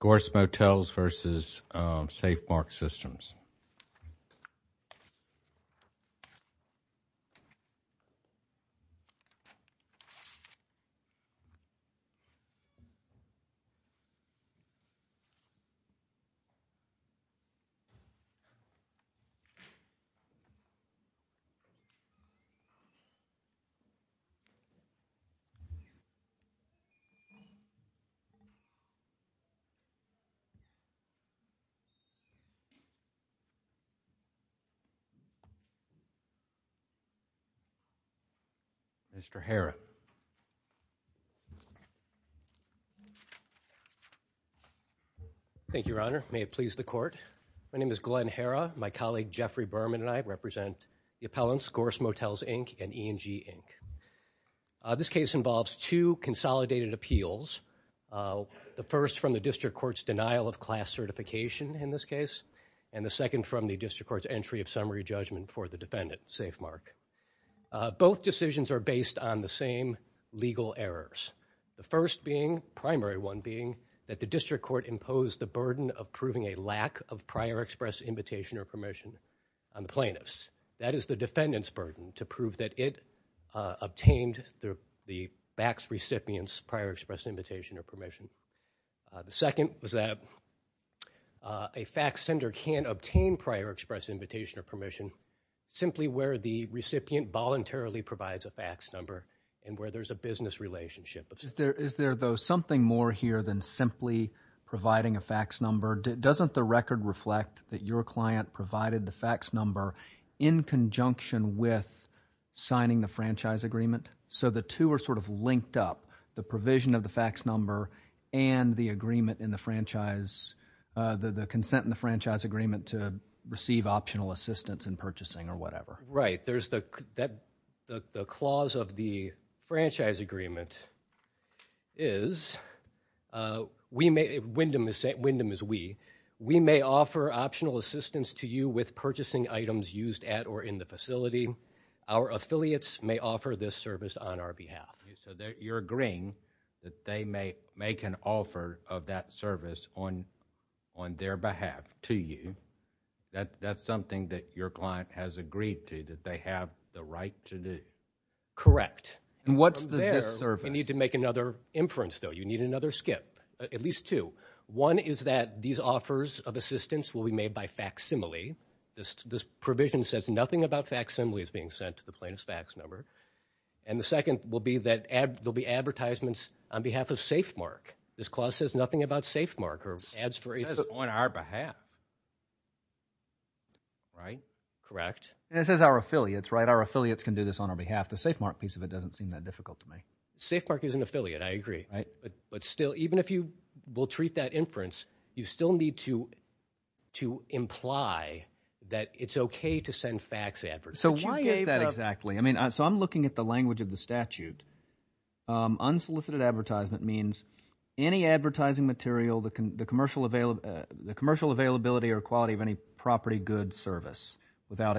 Gorss Motels, Inc. v. Safemark Systems, LP Gorss Motels, Inc. v. E&G, Inc. v. Gorss Motels, Inc. v. E&G, Inc. Thank you, Your Honor. May it please the Court. My name is Glenn Herra. My colleague Jeffrey Berman and I represent the appellants Gorss Motels, Inc. and E&G, Inc. This case involves two consolidated appeals. The first from the District Court's denial of class certification in this case and the second from the District Court's entry of summary judgment for the defendant, Safemark. Both decisions are based on the same legal errors. The first being, primary one being, that the District Court imposed the burden of proving a lack of prior express invitation or permission on the plaintiffs. That is the defendant's burden, to prove that it obtained the fax recipient's prior express invitation or permission. The second was that a fax sender can't obtain prior express invitation or permission simply where the recipient voluntarily provides a fax number and where there's a business relationship. Is there, though, something more here than simply providing a fax number? Doesn't the record reflect that your client provided the fax number in conjunction with signing the franchise agreement? So the two are sort of linked up, the provision of the fax number and the agreement in the franchise, the consent in the franchise agreement to receive optional assistance in purchasing or whatever. Right. There's the clause of the franchise agreement is, we may, Wyndham is we, we may offer optional assistance to you with purchasing items used at or in the facility. Our affiliates may offer this service on our behalf. So you're agreeing that they may make an offer of that service on their behalf to you. That's something that your client has agreed to, that they have the right to do. Correct. And what's the disservice? You need to make another inference, though. You need another skip, at least two. One is that these offers of assistance will be made by facsimile. This provision says nothing about facsimile is being sent to the plaintiff's fax number. And the second will be that there'll be advertisements on behalf of Safemark. This clause says nothing about Safemark or ads for... It says on our behalf. Right. Correct. And it says our affiliates, right? Our affiliates can do this on our behalf. The Safemark piece of it doesn't seem that difficult to me. Safemark is an affiliate. I agree. Right. But still, even if you will treat that inference, you still need to, to imply that it's okay to send fax advertisements. So why is that exactly? I mean, so I'm looking at the language of the statute. Unsolicited advertisement means any advertising material, the commercial availability or quality of any property, goods, service without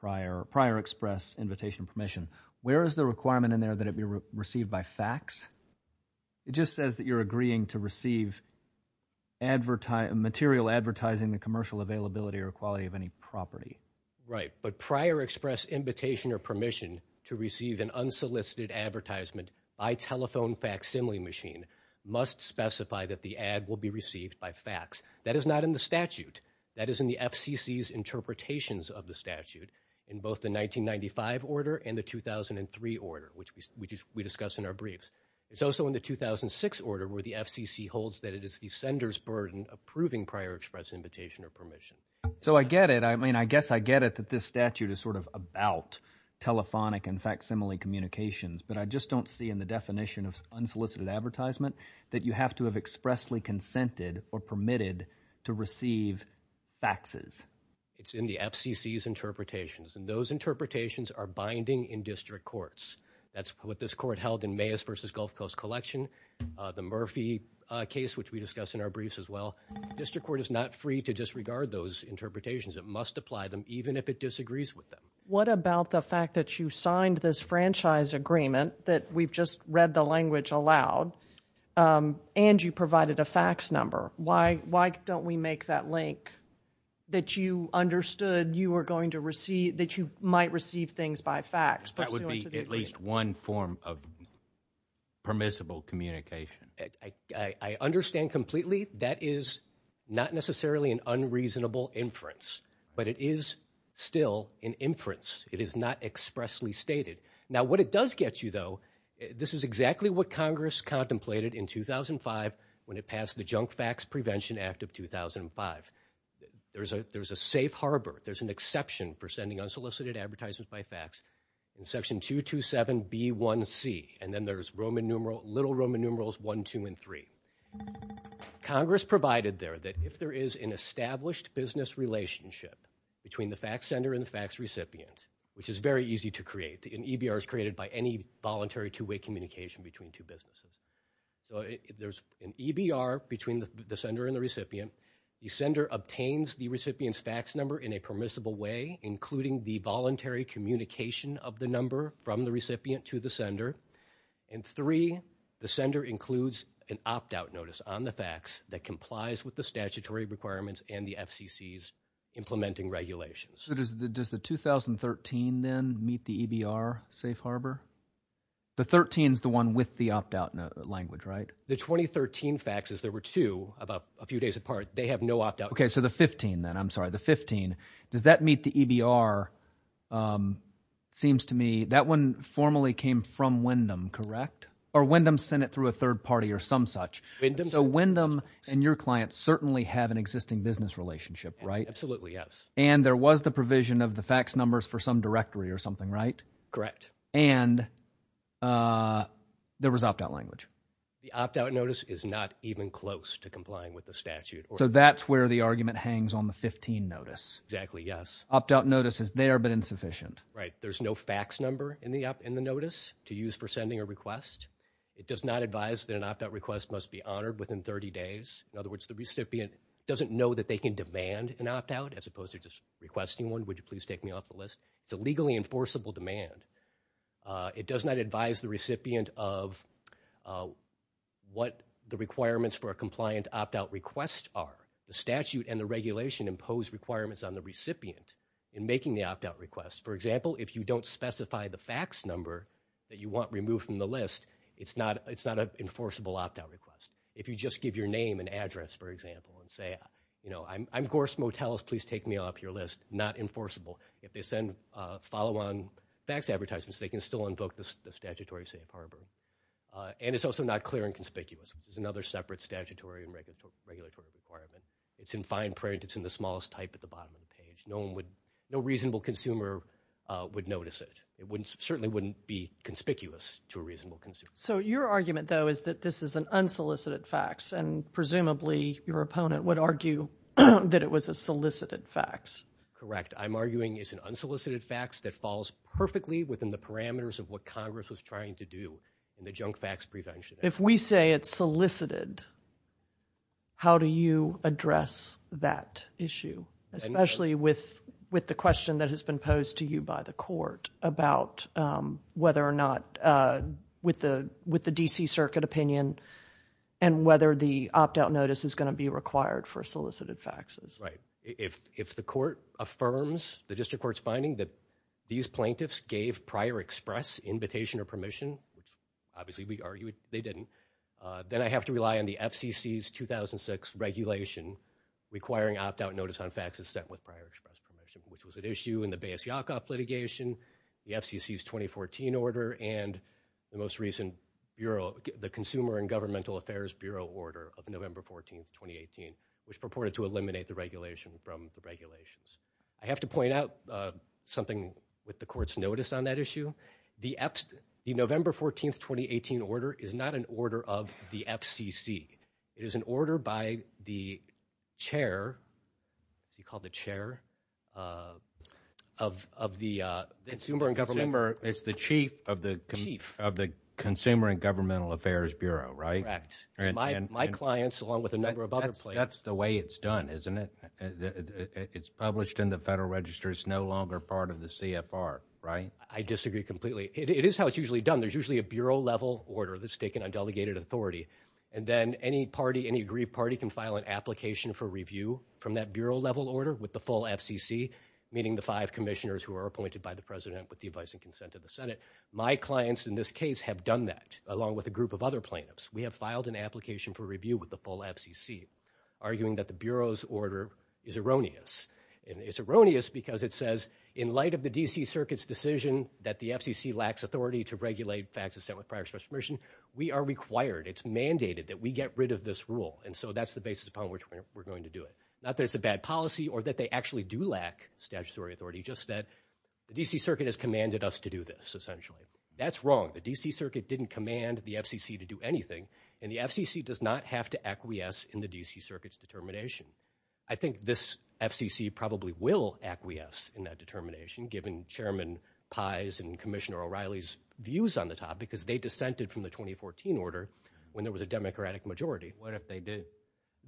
prior express invitation permission. Where is the requirement in there that it be received by fax? It just says that you're agreeing to receive material advertising with commercial availability or quality of any property. Right. But prior express invitation or permission to receive an unsolicited advertisement by telephone facsimile machine must specify that the ad will be received by fax. That is not in the statute. That is in the FCC's interpretations of the statute in both the 1995 order and the 2003 order, which we discuss in our briefs. It's also in the 2006 order where the FCC holds that it is the sender's burden approving prior express invitation or permission. So I get it. I mean, I guess I get it that this statute is sort of about telephonic and facsimile communications, but I just don't see in the definition of unsolicited advertisement that you have to have expressly consented or permitted to receive faxes. It's in the FCC's interpretations, and those interpretations are binding in district courts. That's what this court held in Mayes v. Gulf Coast Collection, the Murphy case, which we discuss in our briefs as well. District court is not free to disregard those interpretations. It must apply them even if it disagrees with them. What about the fact that you signed this franchise agreement that we've just read the language aloud and you provided a fax number? Why don't we make that link that you understood you were going to receive, that you might receive things by fax? That would be at least one form of permissible communication. I understand completely that is not necessarily an unreasonable inference, but it is still an inference. It is not expressly stated. Now, what it does get you, though, this is exactly what Congress contemplated in 2005 when it passed the Junk Fax Prevention Act of 2005. There's a safe harbor, there's an exception for sending unsolicited advertisements by fax, in section 227B1C, and then there's little Roman numerals 1, 2, and 3. Congress provided there that if there is an established business relationship between the fax sender and the fax recipient, which is very easy to create. An EBR is created by any voluntary two-way communication between two businesses. So if there's an EBR between the sender and the recipient, the sender obtains the recipient's fax number in a permissible way, including the voluntary communication of the number from the recipient to the sender. And three, the sender includes an opt-out notice on the fax that complies with the statutory requirements and the FCC's implementing regulations. So does the 2013, then, meet the EBR safe harbor? The 13 is the one with the opt-out language, right? The 2013 fax, as there were two about a few days apart, they have no opt-out. Okay, so the 15, then. I'm sorry, the 15. Does that meet the EBR? It seems to me that one formally came from Wyndham, correct? Or Wyndham sent it through a third party or some such. So Wyndham and your client certainly have an existing business relationship, right? Absolutely, yes. And there was the provision of the fax numbers for some directory or something, right? Correct. And there was opt-out language. The opt-out notice is not even close to complying with the statute. So that's where the argument hangs on the 15 notice. Exactly, yes. Opt-out notice is there but insufficient. Right, there's no fax number in the notice to use for sending a request. It does not advise that an opt-out request must be honored within 30 days. In other words, the recipient doesn't know that they can demand an opt-out as opposed to just requesting one. Would you please take me off the list? It's a legally enforceable demand. It does not advise the recipient of what the requirements for a compliant opt-out request are. The statute and the regulation impose requirements on the recipient in making the opt-out request. For example, if you don't specify the fax number that you want removed from the list, it's not an enforceable opt-out request. If you just give your name and address, for example, and say, I'm Gorse Motels, please take me off your list, not enforceable. If they send follow-on fax advertisements, they can still invoke the statutory safe harbor. And it's also not clear and conspicuous. There's another separate statutory and regulatory requirement. It's in fine print. It's in the smallest type at the bottom of the page. No reasonable consumer would notice it. It certainly wouldn't be conspicuous to a reasonable consumer. So your argument, though, is that this is an unsolicited fax, and presumably your opponent would argue that it was a solicited fax. That's correct. I'm arguing it's an unsolicited fax that falls perfectly within the parameters of what Congress was trying to do in the junk fax prevention act. If we say it's solicited, how do you address that issue, especially with the question that has been posed to you by the court about whether or not with the D.C. Circuit opinion and whether the opt-out notice is going to be required for solicited faxes? Right. If the court affirms, the district court's finding, that these plaintiffs gave prior express invitation or permission, which obviously we argued they didn't, then I have to rely on the FCC's 2006 regulation requiring opt-out notice on faxes sent with prior express permission, which was at issue in the Bayes-Yakoff litigation, the FCC's 2014 order, and the most recent Bureau, the Consumer and Governmental Affairs Bureau order of November 14th, 2018, which purported to eliminate the regulation from the regulations. I have to point out something with the court's notice on that issue. The November 14th, 2018 order is not an order of the FCC. It is an order by the chair. Is he called the chair of the Consumer and Governmental? It's the chief of the Consumer and Governmental Affairs Bureau, right? Correct. My clients, along with a number of other plaintiffs. That's the way it's done, isn't it? It's published in the Federal Register. It's no longer part of the CFR, right? I disagree completely. It is how it's usually done. There's usually a Bureau-level order that's taken on delegated authority, and then any party, any agreed party, can file an application for review from that Bureau-level order with the full FCC, meaning the five commissioners who are appointed by the president with the advice and consent of the Senate. My clients in this case have done that, along with a group of other plaintiffs. We have filed an application for review with the full FCC, arguing that the Bureau's order is erroneous, and it's erroneous because it says, in light of the D.C. Circuit's decision that the FCC lacks authority to regulate facts assent with prior special permission, we are required, it's mandated that we get rid of this rule, and so that's the basis upon which we're going to do it. Not that it's a bad policy or that they actually do lack statutory authority, just that the D.C. Circuit has commanded us to do this, essentially. That's wrong. The D.C. Circuit didn't command the FCC to do anything, and the FCC does not have to acquiesce in the D.C. Circuit's determination. I think this FCC probably will acquiesce in that determination, given Chairman Pai's and Commissioner O'Reilly's views on the topic, because they dissented from the 2014 order when there was a Democratic majority. What if they did?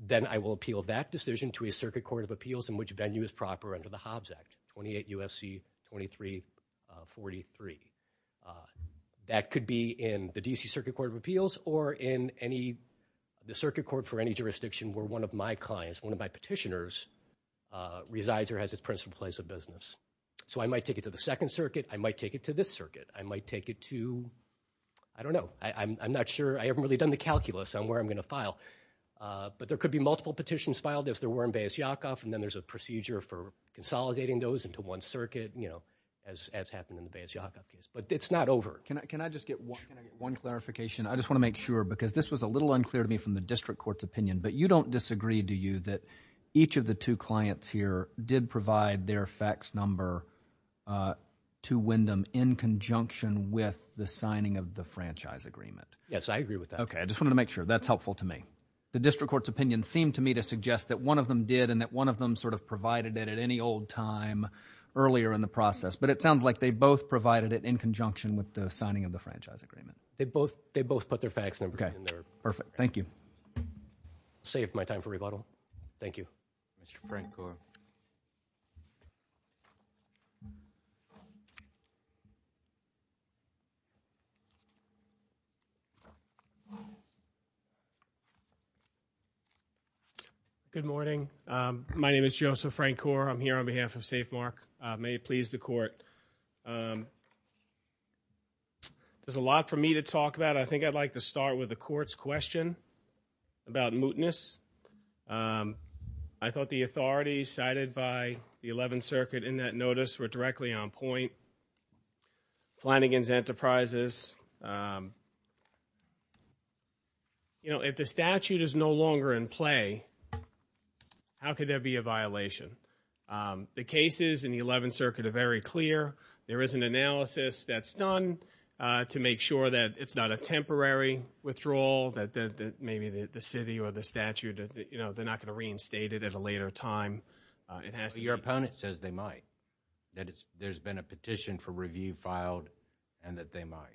Then I will appeal that decision to a Circuit Court of Appeals in which venue is proper under the Hobbs Act, 28 U.S.C. 2343. That could be in the D.C. Circuit Court of Appeals or in the Circuit Court for any jurisdiction where one of my clients, one of my petitioners, resides or has its principal place of business. So I might take it to the Second Circuit. I might take it to this circuit. I might take it to, I don't know. I'm not sure. I haven't really done the calculus on where I'm going to file, but there could be multiple petitions filed if there were in Beas Yaakov, and then there's a procedure for consolidating those into one circuit, as happened in the Beas Yaakov case. But it's not over. Can I just get one clarification? I just want to make sure, because this was a little unclear to me from the district court's opinion, but you don't disagree, do you, that each of the two clients here did provide their fax number to Windham in conjunction with the signing of the franchise agreement? Yes, I agree with that. Okay. I just wanted to make sure. That's helpful to me. The district court's opinion seemed to me to suggest that one of them did and that one of them sort of provided it at any old time earlier in the process. But it sounds like they both provided it in conjunction with the signing of the franchise agreement. They both put their fax numbers in there. Okay. Perfect. Thank you. Saved my time for rebuttal. Thank you. Mr. Frank Gore. Good morning. My name is Joseph Frank Gore. I'm here on behalf of Safemark. May it please the court. There's a lot for me to talk about. I think I'd like to start with the court's question about mootness. I thought the authorities cited by the 11th Circuit in that notice were directly on point. Flanagan's Enterprises. If the statute is no longer in play, how could there be a violation? The cases in the 11th Circuit are very clear. There is an analysis that's done to make sure that it's not a temporary withdrawal, that maybe the city or the statute, you know, they're not going to reinstate it at a later time. Your opponent says they might, that there's been a petition for review filed and that they might.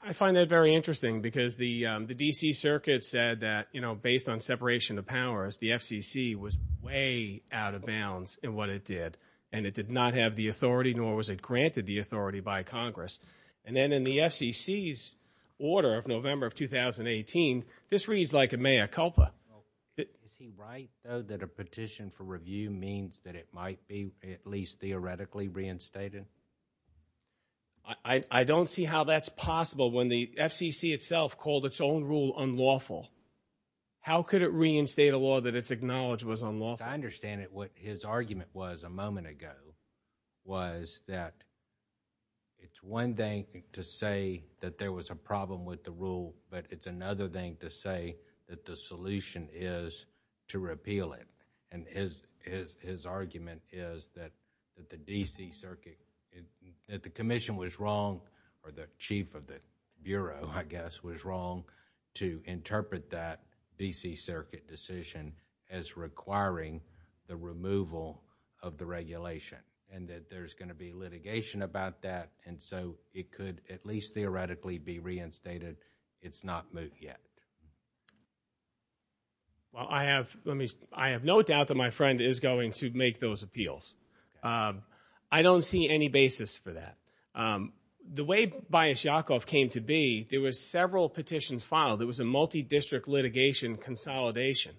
I find that very interesting because the D.C. Circuit said that, you know, based on separation of powers, the FCC was way out of bounds in what it did, and it did not have the authority, nor was it granted the authority by Congress. And then in the FCC's order of November of 2018, this reads like a mea culpa. Is he right, though, that a petition for review means that it might be, at least theoretically, reinstated? I don't see how that's possible when the FCC itself called its own rule unlawful. How could it reinstate a law that it's acknowledged was unlawful? I understand it. What his argument was a moment ago was that it's one thing to say that there was a problem with the rule, but it's another thing to say that the solution is to repeal it. And his argument is that the D.C. Circuit, that the commission was wrong, or the chief of the Bureau, I guess, was wrong to interpret that D.C. Circuit decision as requiring the removal of the regulation, and that there's going to be litigation about that, and so it could at least theoretically be reinstated. It's not moved yet. Well, I have no doubt that my friend is going to make those appeals. I don't see any basis for that. The way Bias Yakov came to be, there were several petitions filed. There was a multi-district litigation consolidation.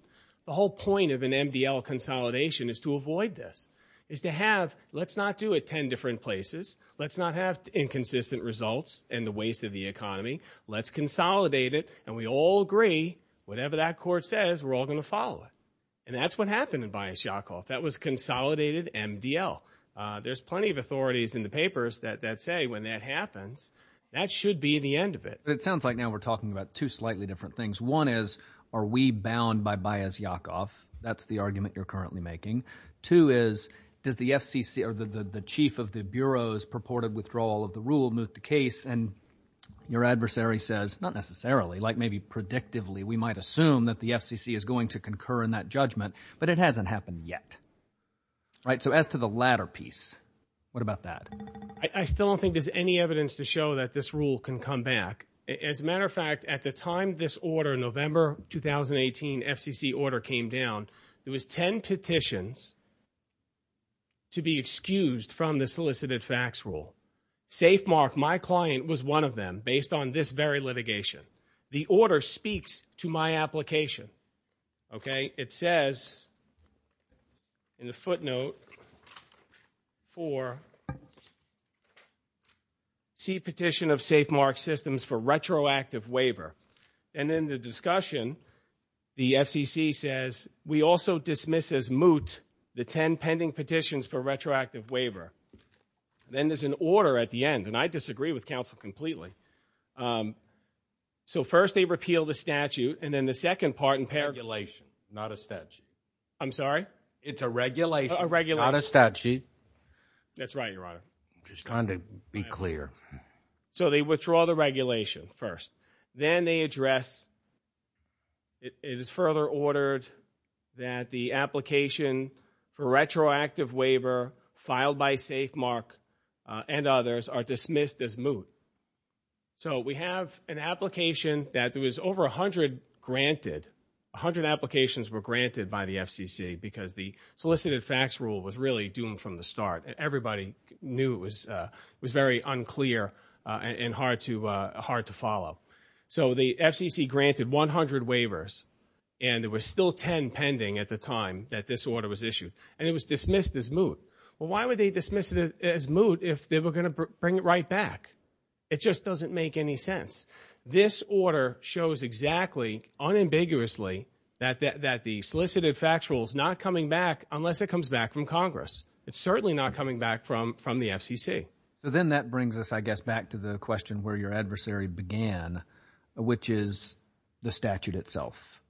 The whole point of an MDL consolidation is to avoid this, is to have, let's not do it 10 different places. Let's not have inconsistent results and the waste of the economy. Let's consolidate it, and we all agree, whatever that court says, we're all going to follow it. And that's what happened in Bias Yakov. That was consolidated MDL. There's plenty of authorities in the papers that say, when that happens, that should be the end of it. It sounds like now we're talking about two slightly different things. One is, are we bound by Bias Yakov? That's the argument you're currently making. Two is, does the FCC, or the chief of the Bureau's purported withdrawal of the rule move the case, and your adversary says, not necessarily, like maybe predictively, we might assume that the FCC is going to concur in that judgment, but it hasn't happened yet. So as to the latter piece, what about that? I still don't think there's any evidence to show that this rule can come back. As a matter of fact, at the time this order, November 2018 FCC order came down, there was 10 petitions to be excused from the solicited facts rule. Safe mark, my client was one of them, based on this very litigation. The order speaks to my application. It says, in the footnote, for C petition of safe mark systems for retroactive waiver. And in the discussion, the FCC says, we also dismiss as moot the 10 pending petitions for retroactive waiver. Then there's an order at the end, and I disagree with counsel completely. So first they repeal the statute, and then the second part in paragulation, not a statute. I'm sorry? It's a regulation. A regulation. Not a statute. That's right, Your Honor. Just trying to be clear. So they withdraw the regulation first. Then they address, it is further ordered that the application for retroactive waiver filed by safe mark and others are dismissed as moot. So we have an application that there was over 100 granted, 100 applications were granted by the FCC because the solicited facts rule was really doomed from the start. Everybody knew it was very unclear and hard to follow. So the FCC granted 100 waivers, and there were still 10 pending at the time that this order was issued. And it was dismissed as moot. Well, why would they dismiss it as moot if they were going to bring it right back? It just doesn't make any sense. This order shows exactly, unambiguously, that the solicited facts rule is not coming back unless it comes back from Congress. It's certainly not coming back from the FCC. So then that brings us, I guess, back to the question where your adversary began, which is the statute itself.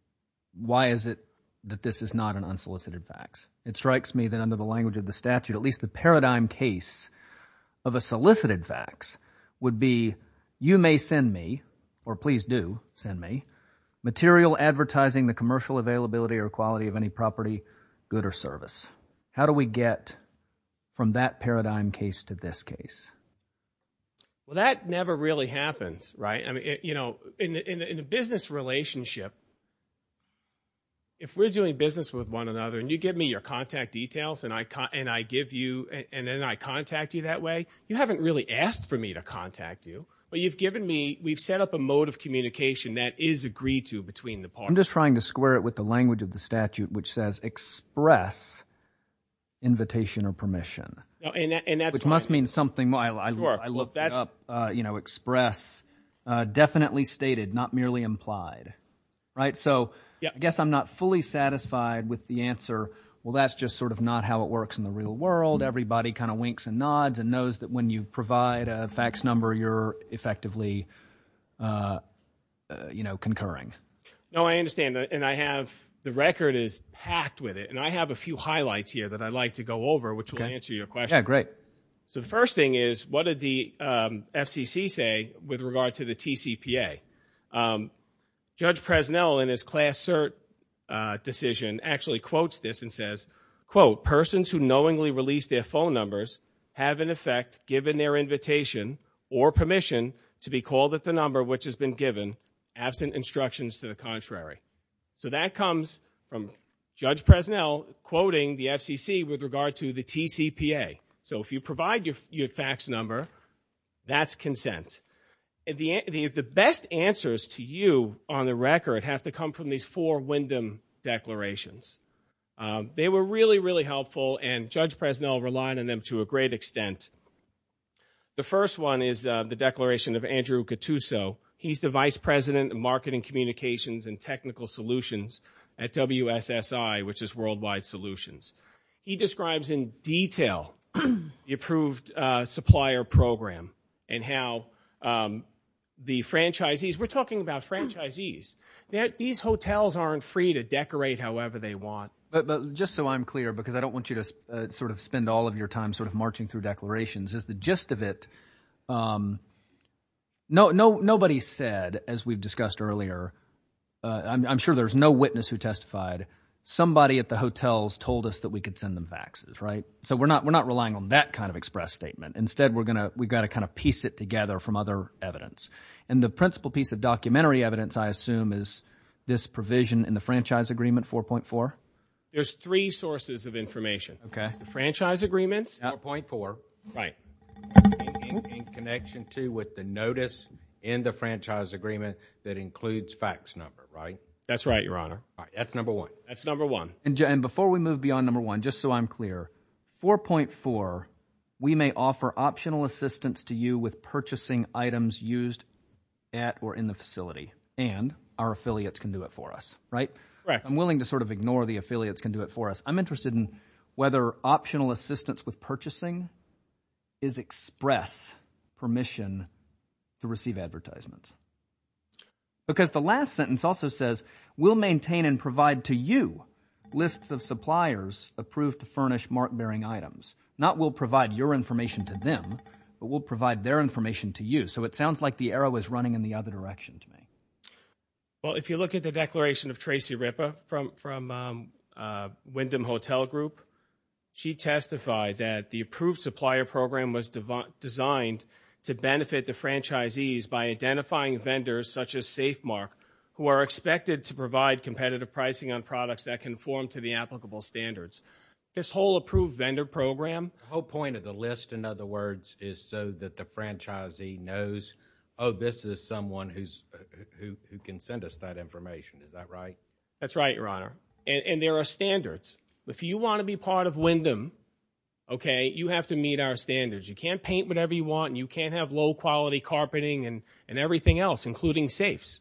Why is it that this is not an unsolicited fax? It strikes me that under the language of the statute, at least the paradigm case of a solicited fax would be, you may send me, or please do send me, material advertising the commercial availability or quality of any property, good or service. How do we get from that paradigm case to this case? Well, that never really happens, right? In a business relationship, if we're doing business with one another and you give me your contact details and I give you and then I contact you that way, you haven't really asked for me to contact you, but you've given me, we've set up a mode of communication that is agreed to between the parties. I'm just trying to square it with the language of the statute, which says express invitation or permission, which must mean something. I looked it up, express, definitely stated, not merely implied. So I guess I'm not fully satisfied with the answer, well, that's just sort of not how it works in the real world. Everybody kind of winks and nods and knows that when you provide a fax number, you're effectively concurring. No, I understand, and I have the record is packed with it, and I have a few highlights here that I'd like to go over, which will answer your question. Yeah, great. So the first thing is what did the FCC say with regard to the TCPA? Judge Presnell in his class cert decision actually quotes this and says, quote, persons who knowingly release their phone numbers have in effect given their invitation or permission to be called at the number which has been given absent instructions to the contrary. So that comes from Judge Presnell quoting the FCC with regard to the TCPA. So if you provide your fax number, that's consent. The best answers to you on the record have to come from these four Wyndham declarations. They were really, really helpful, and Judge Presnell relied on them to a great extent. The first one is the declaration of Andrew Cattuso. He's the Vice President of Marketing Communications and Technical Solutions at WSSI, which is Worldwide Solutions. He describes in detail the approved supplier program and how the franchisees, we're talking about franchisees. These hotels aren't free to decorate however they want. But just so I'm clear, because I don't want you to sort of spend all of your time sort of marching through declarations, is the gist of it, nobody said, as we've discussed earlier, I'm sure there's no witness who testified, somebody at the hotels told us that we could send them faxes, right? So we're not relying on that kind of express statement. Instead, we've got to kind of piece it together from other evidence. And the principal piece of documentary evidence, I assume, is this provision in the franchise agreement, 4.4? There's three sources of information. Okay. The franchise agreements, 4.4. Right. In connection, too, with the notice in the franchise agreement that includes fax number, right? That's right, Your Honor. That's number one. That's number one. And before we move beyond number one, just so I'm clear, 4.4, we may offer optional assistance to you with purchasing items used at or in the facility, and our affiliates can do it for us, right? Correct. I'm willing to sort of ignore the affiliates can do it for us. I'm interested in whether optional assistance with purchasing is express permission to receive advertisements. Because the last sentence also says, we'll maintain and provide to you lists of suppliers approved to furnish mark-bearing items. Not we'll provide your information to them, but we'll provide their information to you. So it sounds like the arrow is running in the other direction to me. Well, if you look at the declaration of Tracy Rippa from Wyndham Hotel Group, she testified that the approved supplier program was designed to benefit the franchisees by identifying vendors such as Safemark, who are expected to provide competitive pricing on products that conform to the applicable standards. This whole approved vendor program. The whole point of the list, in other words, is so that the franchisee knows, oh, this is someone who can send us that information. Is that right? That's right, Your Honor. And there are standards. If you want to be part of Wyndham, okay, you have to meet our standards. You can't paint whatever you want, and you can't have low-quality carpeting and everything else, including safes.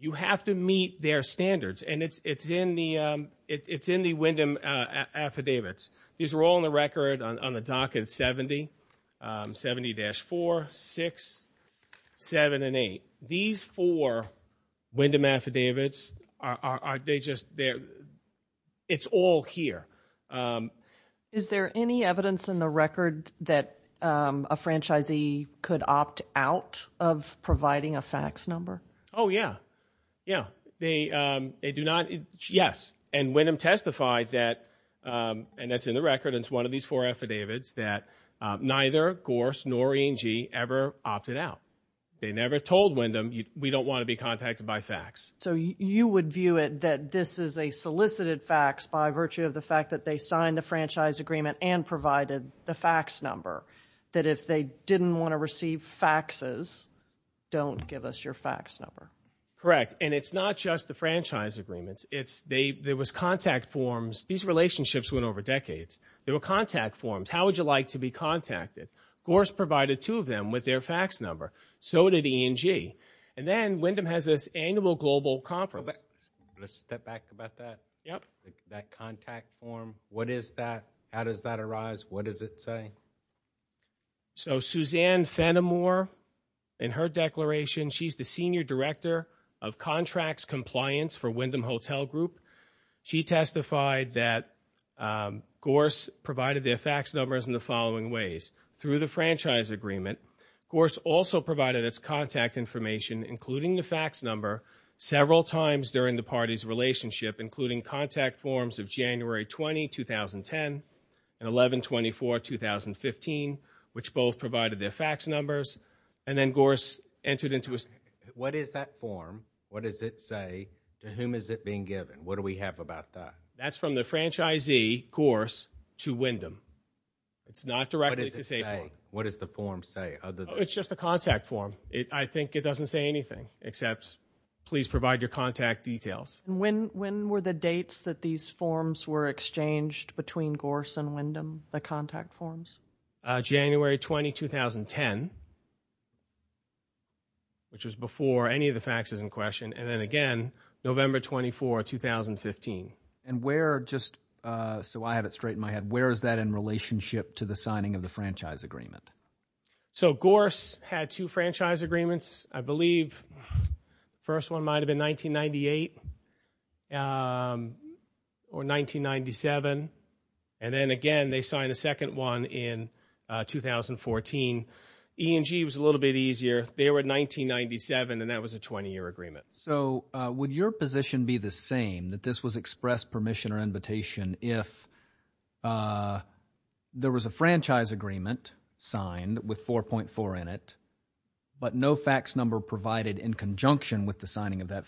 You have to meet their standards, and it's in the Wyndham affidavits. These are all on the record on the docket, 70, 70-4, 6, 7, and 8. These four Wyndham affidavits, it's all here. Is there any evidence in the record that a franchisee could opt out of providing a fax number? Oh, yeah. Yeah, they do not. Yes, and Wyndham testified that, and that's in the record, and it's one of these four affidavits, that neither Gorse nor E&G ever opted out. They never told Wyndham, we don't want to be contacted by fax. So you would view it that this is a solicited fax by virtue of the fact that they signed the franchise agreement and provided the fax number, that if they didn't want to receive faxes, don't give us your fax number. Correct, and it's not just the franchise agreements. There was contact forms. These relationships went over decades. There were contact forms. How would you like to be contacted? Gorse provided two of them with their fax number. So did E&G. And then Wyndham has this annual global conference. Let's step back about that. Yep. That contact form, what is that? How does that arise? What does it say? So Suzanne Fenimore, in her declaration, she's the Senior Director of Contracts Compliance for Wyndham Hotel Group. She testified that Gorse provided their fax numbers in the following ways. Through the franchise agreement, Gorse also provided its contact information, including the fax number, several times during the party's relationship, including contact forms of January 20, 2010, and 11-24, 2015, which both provided their fax numbers. And then Gorse entered into a— What is that form? What does it say? To whom is it being given? What do we have about that? That's from the franchisee, Gorse, to Wyndham. It's not directly to Safeway. What does it say? What does the form say? It's just a contact form. I think it doesn't say anything except, please provide your contact details. When were the dates that these forms were exchanged between Gorse and Wyndham, the contact forms? January 20, 2010, which was before any of the faxes in question, and then again November 24, 2015. And where just—so I have it straight in my head. Where is that in relationship to the signing of the franchise agreement? So Gorse had two franchise agreements. I believe the first one might have been 1998 or 1997, and then again they signed a second one in 2014. E&G was a little bit easier. They were in 1997, and that was a 20-year agreement. So would your position be the same, that this was express permission or invitation, if there was a franchise agreement signed with 4.4 in it, but no fax number provided in conjunction with the signing of that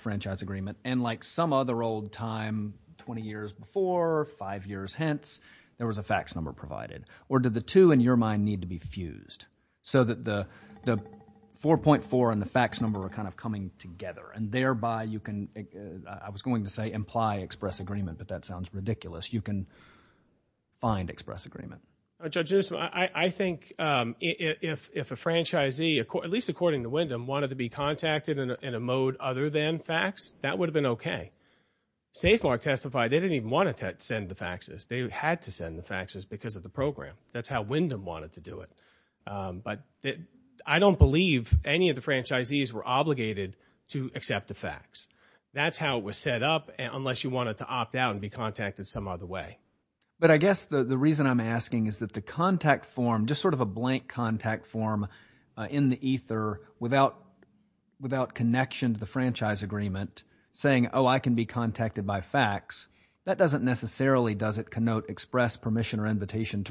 franchise agreement, and like some other old time, 20 years before, five years hence, there was a fax number provided? Or do the two in your mind need to be fused so that the 4.4 and the fax number are kind of coming together, and thereby you can—I was going to say imply express agreement, but that sounds ridiculous. You can find express agreement. Judge Newsom, I think if a franchisee, at least according to Wyndham, wanted to be contacted in a mode other than fax, that would have been okay. Safemark testified they didn't even want to send the faxes. They had to send the faxes because of the program. That's how Wyndham wanted to do it. I don't believe any of the franchisees were obligated to accept a fax. That's how it was set up, unless you wanted to opt out and be contacted some other way. But I guess the reason I'm asking is that the contact form, just sort of a blank contact form in the ether without connection to the franchise agreement, saying, oh, I can be contacted by fax, that doesn't necessarily, does it, to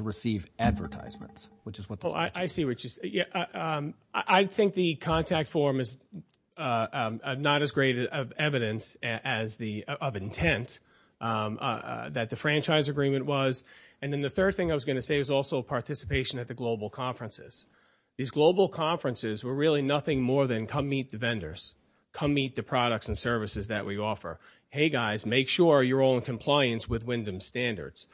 receive advertisements, which is what this— Oh, I see what you're saying. I think the contact form is not as great of evidence of intent that the franchise agreement was. And then the third thing I was going to say was also participation at the global conferences. These global conferences were really nothing more than come meet the vendors, come meet the products and services that we offer. Hey, guys, make sure you're all in compliance with Wyndham's standards.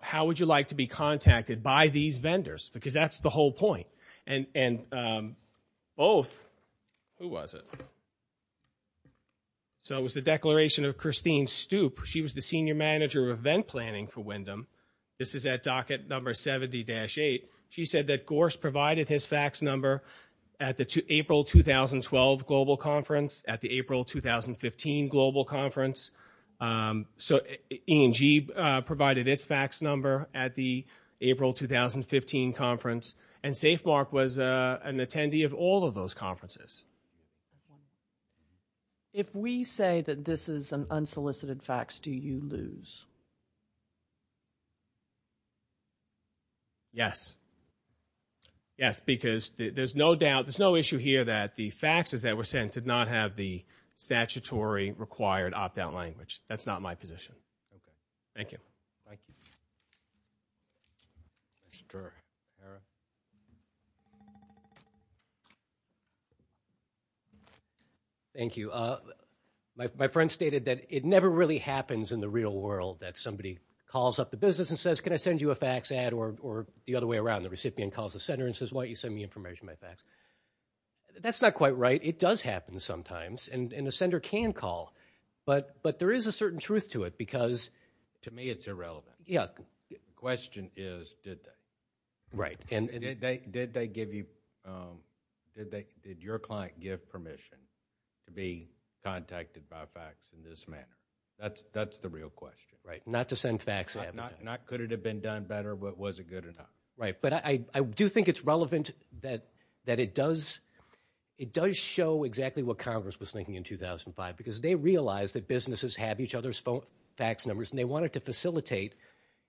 How would you like to be contacted by these vendors? Because that's the whole point. And both—who was it? So it was the declaration of Christine Stoop. She was the senior manager of event planning for Wyndham. This is at docket number 70-8. She said that Gorse provided his fax number at the April 2012 global conference, at the April 2015 global conference. So E&G provided its fax number at the April 2015 conference, and Safemark was an attendee of all of those conferences. If we say that this is an unsolicited fax, do you lose? Yes. Yes, because there's no doubt, there's no issue here that the faxes that were sent did not have the statutory required opt-out language. That's not my position. Thank you. Thank you. My friend stated that it never really happens in the real world that somebody calls up the business and says, can I send you a fax ad, or the other way around. The recipient calls the sender and says, why don't you send me information by fax. That's not quite right. It does happen sometimes, and a sender can call. But there is a certain truth to it, because. To me it's irrelevant. Yeah. The question is, did they? Right. Did they give you, did your client give permission to be contacted by fax in this manner? That's the real question, right? Not to send fax ad. Not could it have been done better, but was it good enough? Right. But I do think it's relevant that it does show exactly what Congress was thinking in 2005, because they realized that businesses have each other's fax numbers, and they wanted to facilitate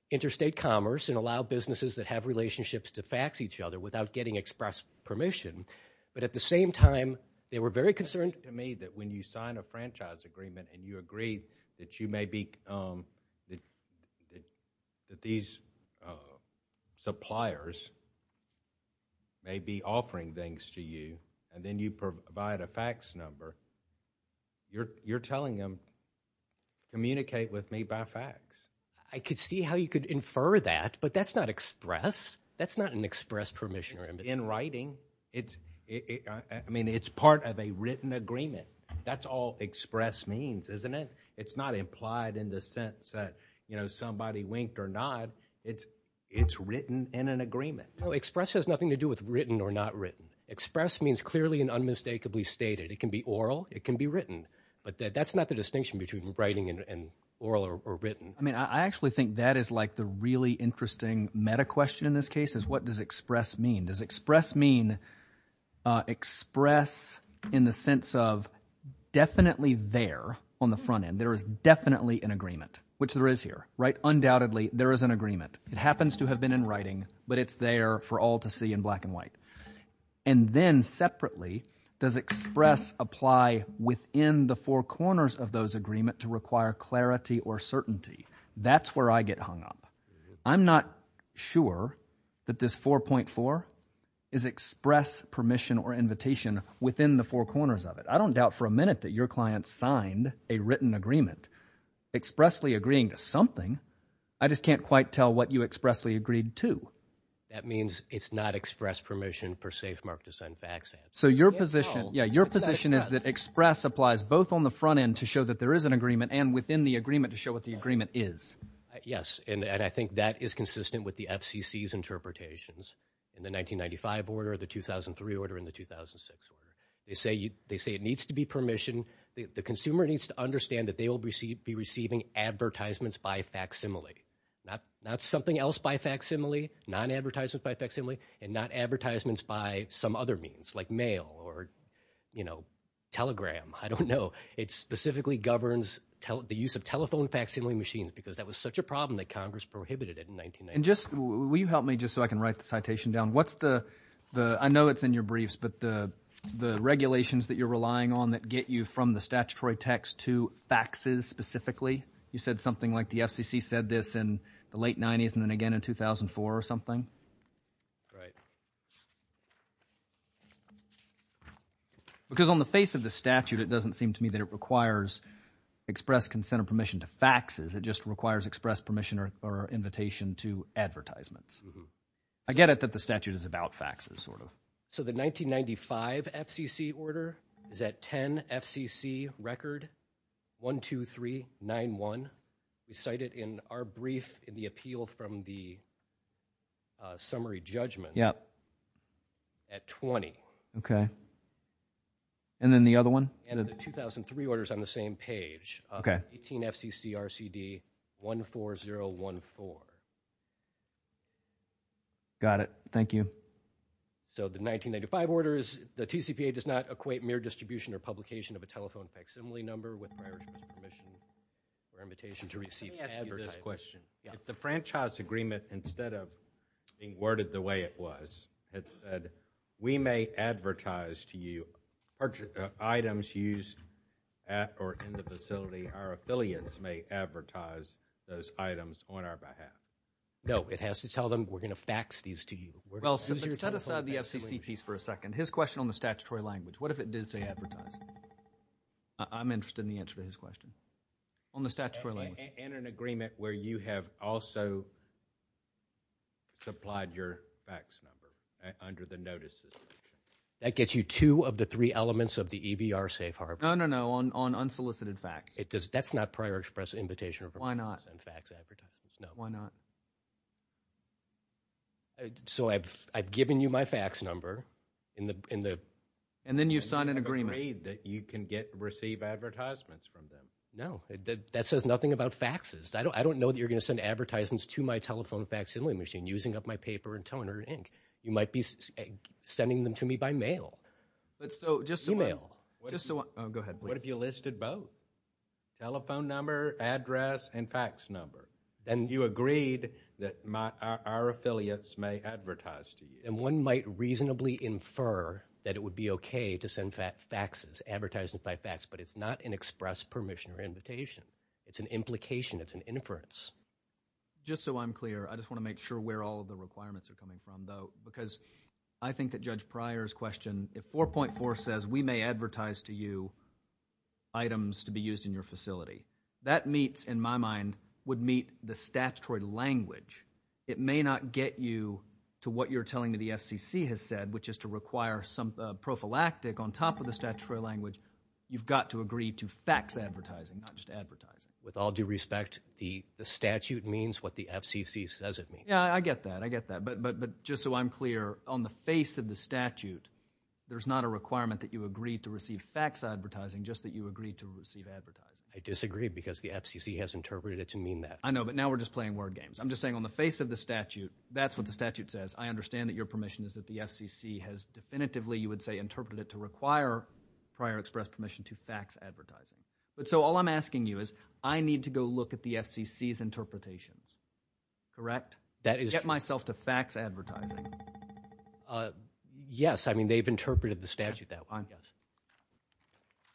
interstate commerce and allow businesses that have relationships to fax each other without getting express permission. But at the same time, they were very concerned. Do you think to me that when you sign a franchise agreement, and you agree that you may be, that these suppliers may be offering things to you, and then you provide a fax number, you're telling them communicate with me by fax? I could see how you could infer that, but that's not express. That's not an express permission. In writing, I mean, it's part of a written agreement. That's all express means, isn't it? It's not implied in the sense that, you know, somebody winked or nod. It's written in an agreement. No, express has nothing to do with written or not written. Express means clearly and unmistakably stated. It can be oral. It can be written. But that's not the distinction between writing and oral or written. I mean, I actually think that is like the really interesting meta question in this case, is what does express mean? Does express mean express in the sense of definitely there on the front end, there is definitely an agreement, which there is here, right? Undoubtedly, there is an agreement. It happens to have been in writing, but it's there for all to see in black and white. And then separately, does express apply within the four corners of those agreement to require clarity or certainty? That's where I get hung up. I'm not sure that this 4.4 is express permission or invitation within the four corners of it. I don't doubt for a minute that your client signed a written agreement expressly agreeing to something. I just can't quite tell what you expressly agreed to. That means it's not express permission per se for Mark to sign FACTS Act. So your position is that express applies both on the front end to show that there is an agreement and within the agreement to show what the agreement is. Yes, and I think that is consistent with the FCC's interpretations in the 1995 order, the 2003 order, and the 2006 order. They say it needs to be permission. The consumer needs to understand that they will be receiving advertisements by facsimile, not something else by facsimile, non-advertisements by facsimile, and not advertisements by some other means like mail or, you know, telegram. I don't know. It specifically governs the use of telephone facsimile machines because that was such a problem that Congress prohibited it in 1990. Will you help me just so I can write the citation down? What's the—I know it's in your briefs, but the regulations that you're relying on that get you from the statutory text to FACTSs specifically? You said something like the FCC said this in the late 90s and then again in 2004 or something? Right. Because on the face of the statute, it doesn't seem to me that it requires express consent or permission to FACTSs. It just requires express permission or invitation to advertisements. I get it that the statute is about FACTSs sort of. So the 1995 FCC order is at 10 FCC record 12391. We cite it in our brief in the appeal from the summary judgment at 20. Okay. And then the other one? And the 2003 order is on the same page, 18 FCC RCD 14014. Got it. Thank you. So the 1995 order is the TCPA does not equate mere distribution or publication of a telephone facsimile number with prior permission or invitation to receive advertising. Let me ask you this question. If the franchise agreement, instead of being worded the way it was, it said we may advertise to you items used at or in the facility, our affiliates may advertise those items on our behalf. No, it has to tell them we're going to FACTS these to you. Well, set aside the FCC piece for a second. His question on the statutory language. What if it did say advertise? I'm interested in the answer to his question on the statutory language. And an agreement where you have also supplied your FACTS number under the notices. That gets you two of the three elements of the EBR safe harbor. No, no, no, on unsolicited FACTS. That's not prior express invitation. Why not? No. Why not? So I've given you my FACTS number. And then you've signed an agreement. You've agreed that you can receive advertisements from them. No. That says nothing about FACTSs. I don't know that you're going to send advertisements to my telephone facsimile machine using up my paper and toner and ink. You might be sending them to me by mail. Email. Go ahead. What if you listed both? Telephone number, address, and FACTS number. Then you agreed that our affiliates may advertise to you. And one might reasonably infer that it would be okay to send FACTSs, advertisements by FACTS, but it's not an express permission or invitation. It's an implication. It's an inference. Just so I'm clear, I just want to make sure where all of the requirements are coming from, though, because I think that Judge Pryor's question, if 4.4 says we may advertise to you items to be used in your facility, that meets, in my mind, would meet the statutory language. It may not get you to what you're telling me the FCC has said, which is to require some prophylactic on top of the statutory language. You've got to agree to FACTS advertising, not just advertising. With all due respect, the statute means what the FCC says it means. Yeah, I get that. I get that. But just so I'm clear, on the face of the statute, there's not a requirement that you agree to receive FACTS advertising, just that you agree to receive advertising. I disagree because the FCC has interpreted it to mean that. I know, but now we're just playing word games. I'm just saying on the face of the statute, that's what the statute says. I understand that your permission is that the FCC has definitively, you would say, interpreted it to require prior express permission to FACTS advertising. But so all I'm asking you is I need to go look at the FCC's interpretations, correct? That is true. Get myself to FACTS advertising. Yes, I mean, they've interpreted the statute that way, yes.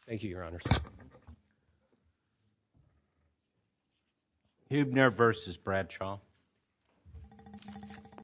Thank you, Your Honors. Huebner versus Bradshaw.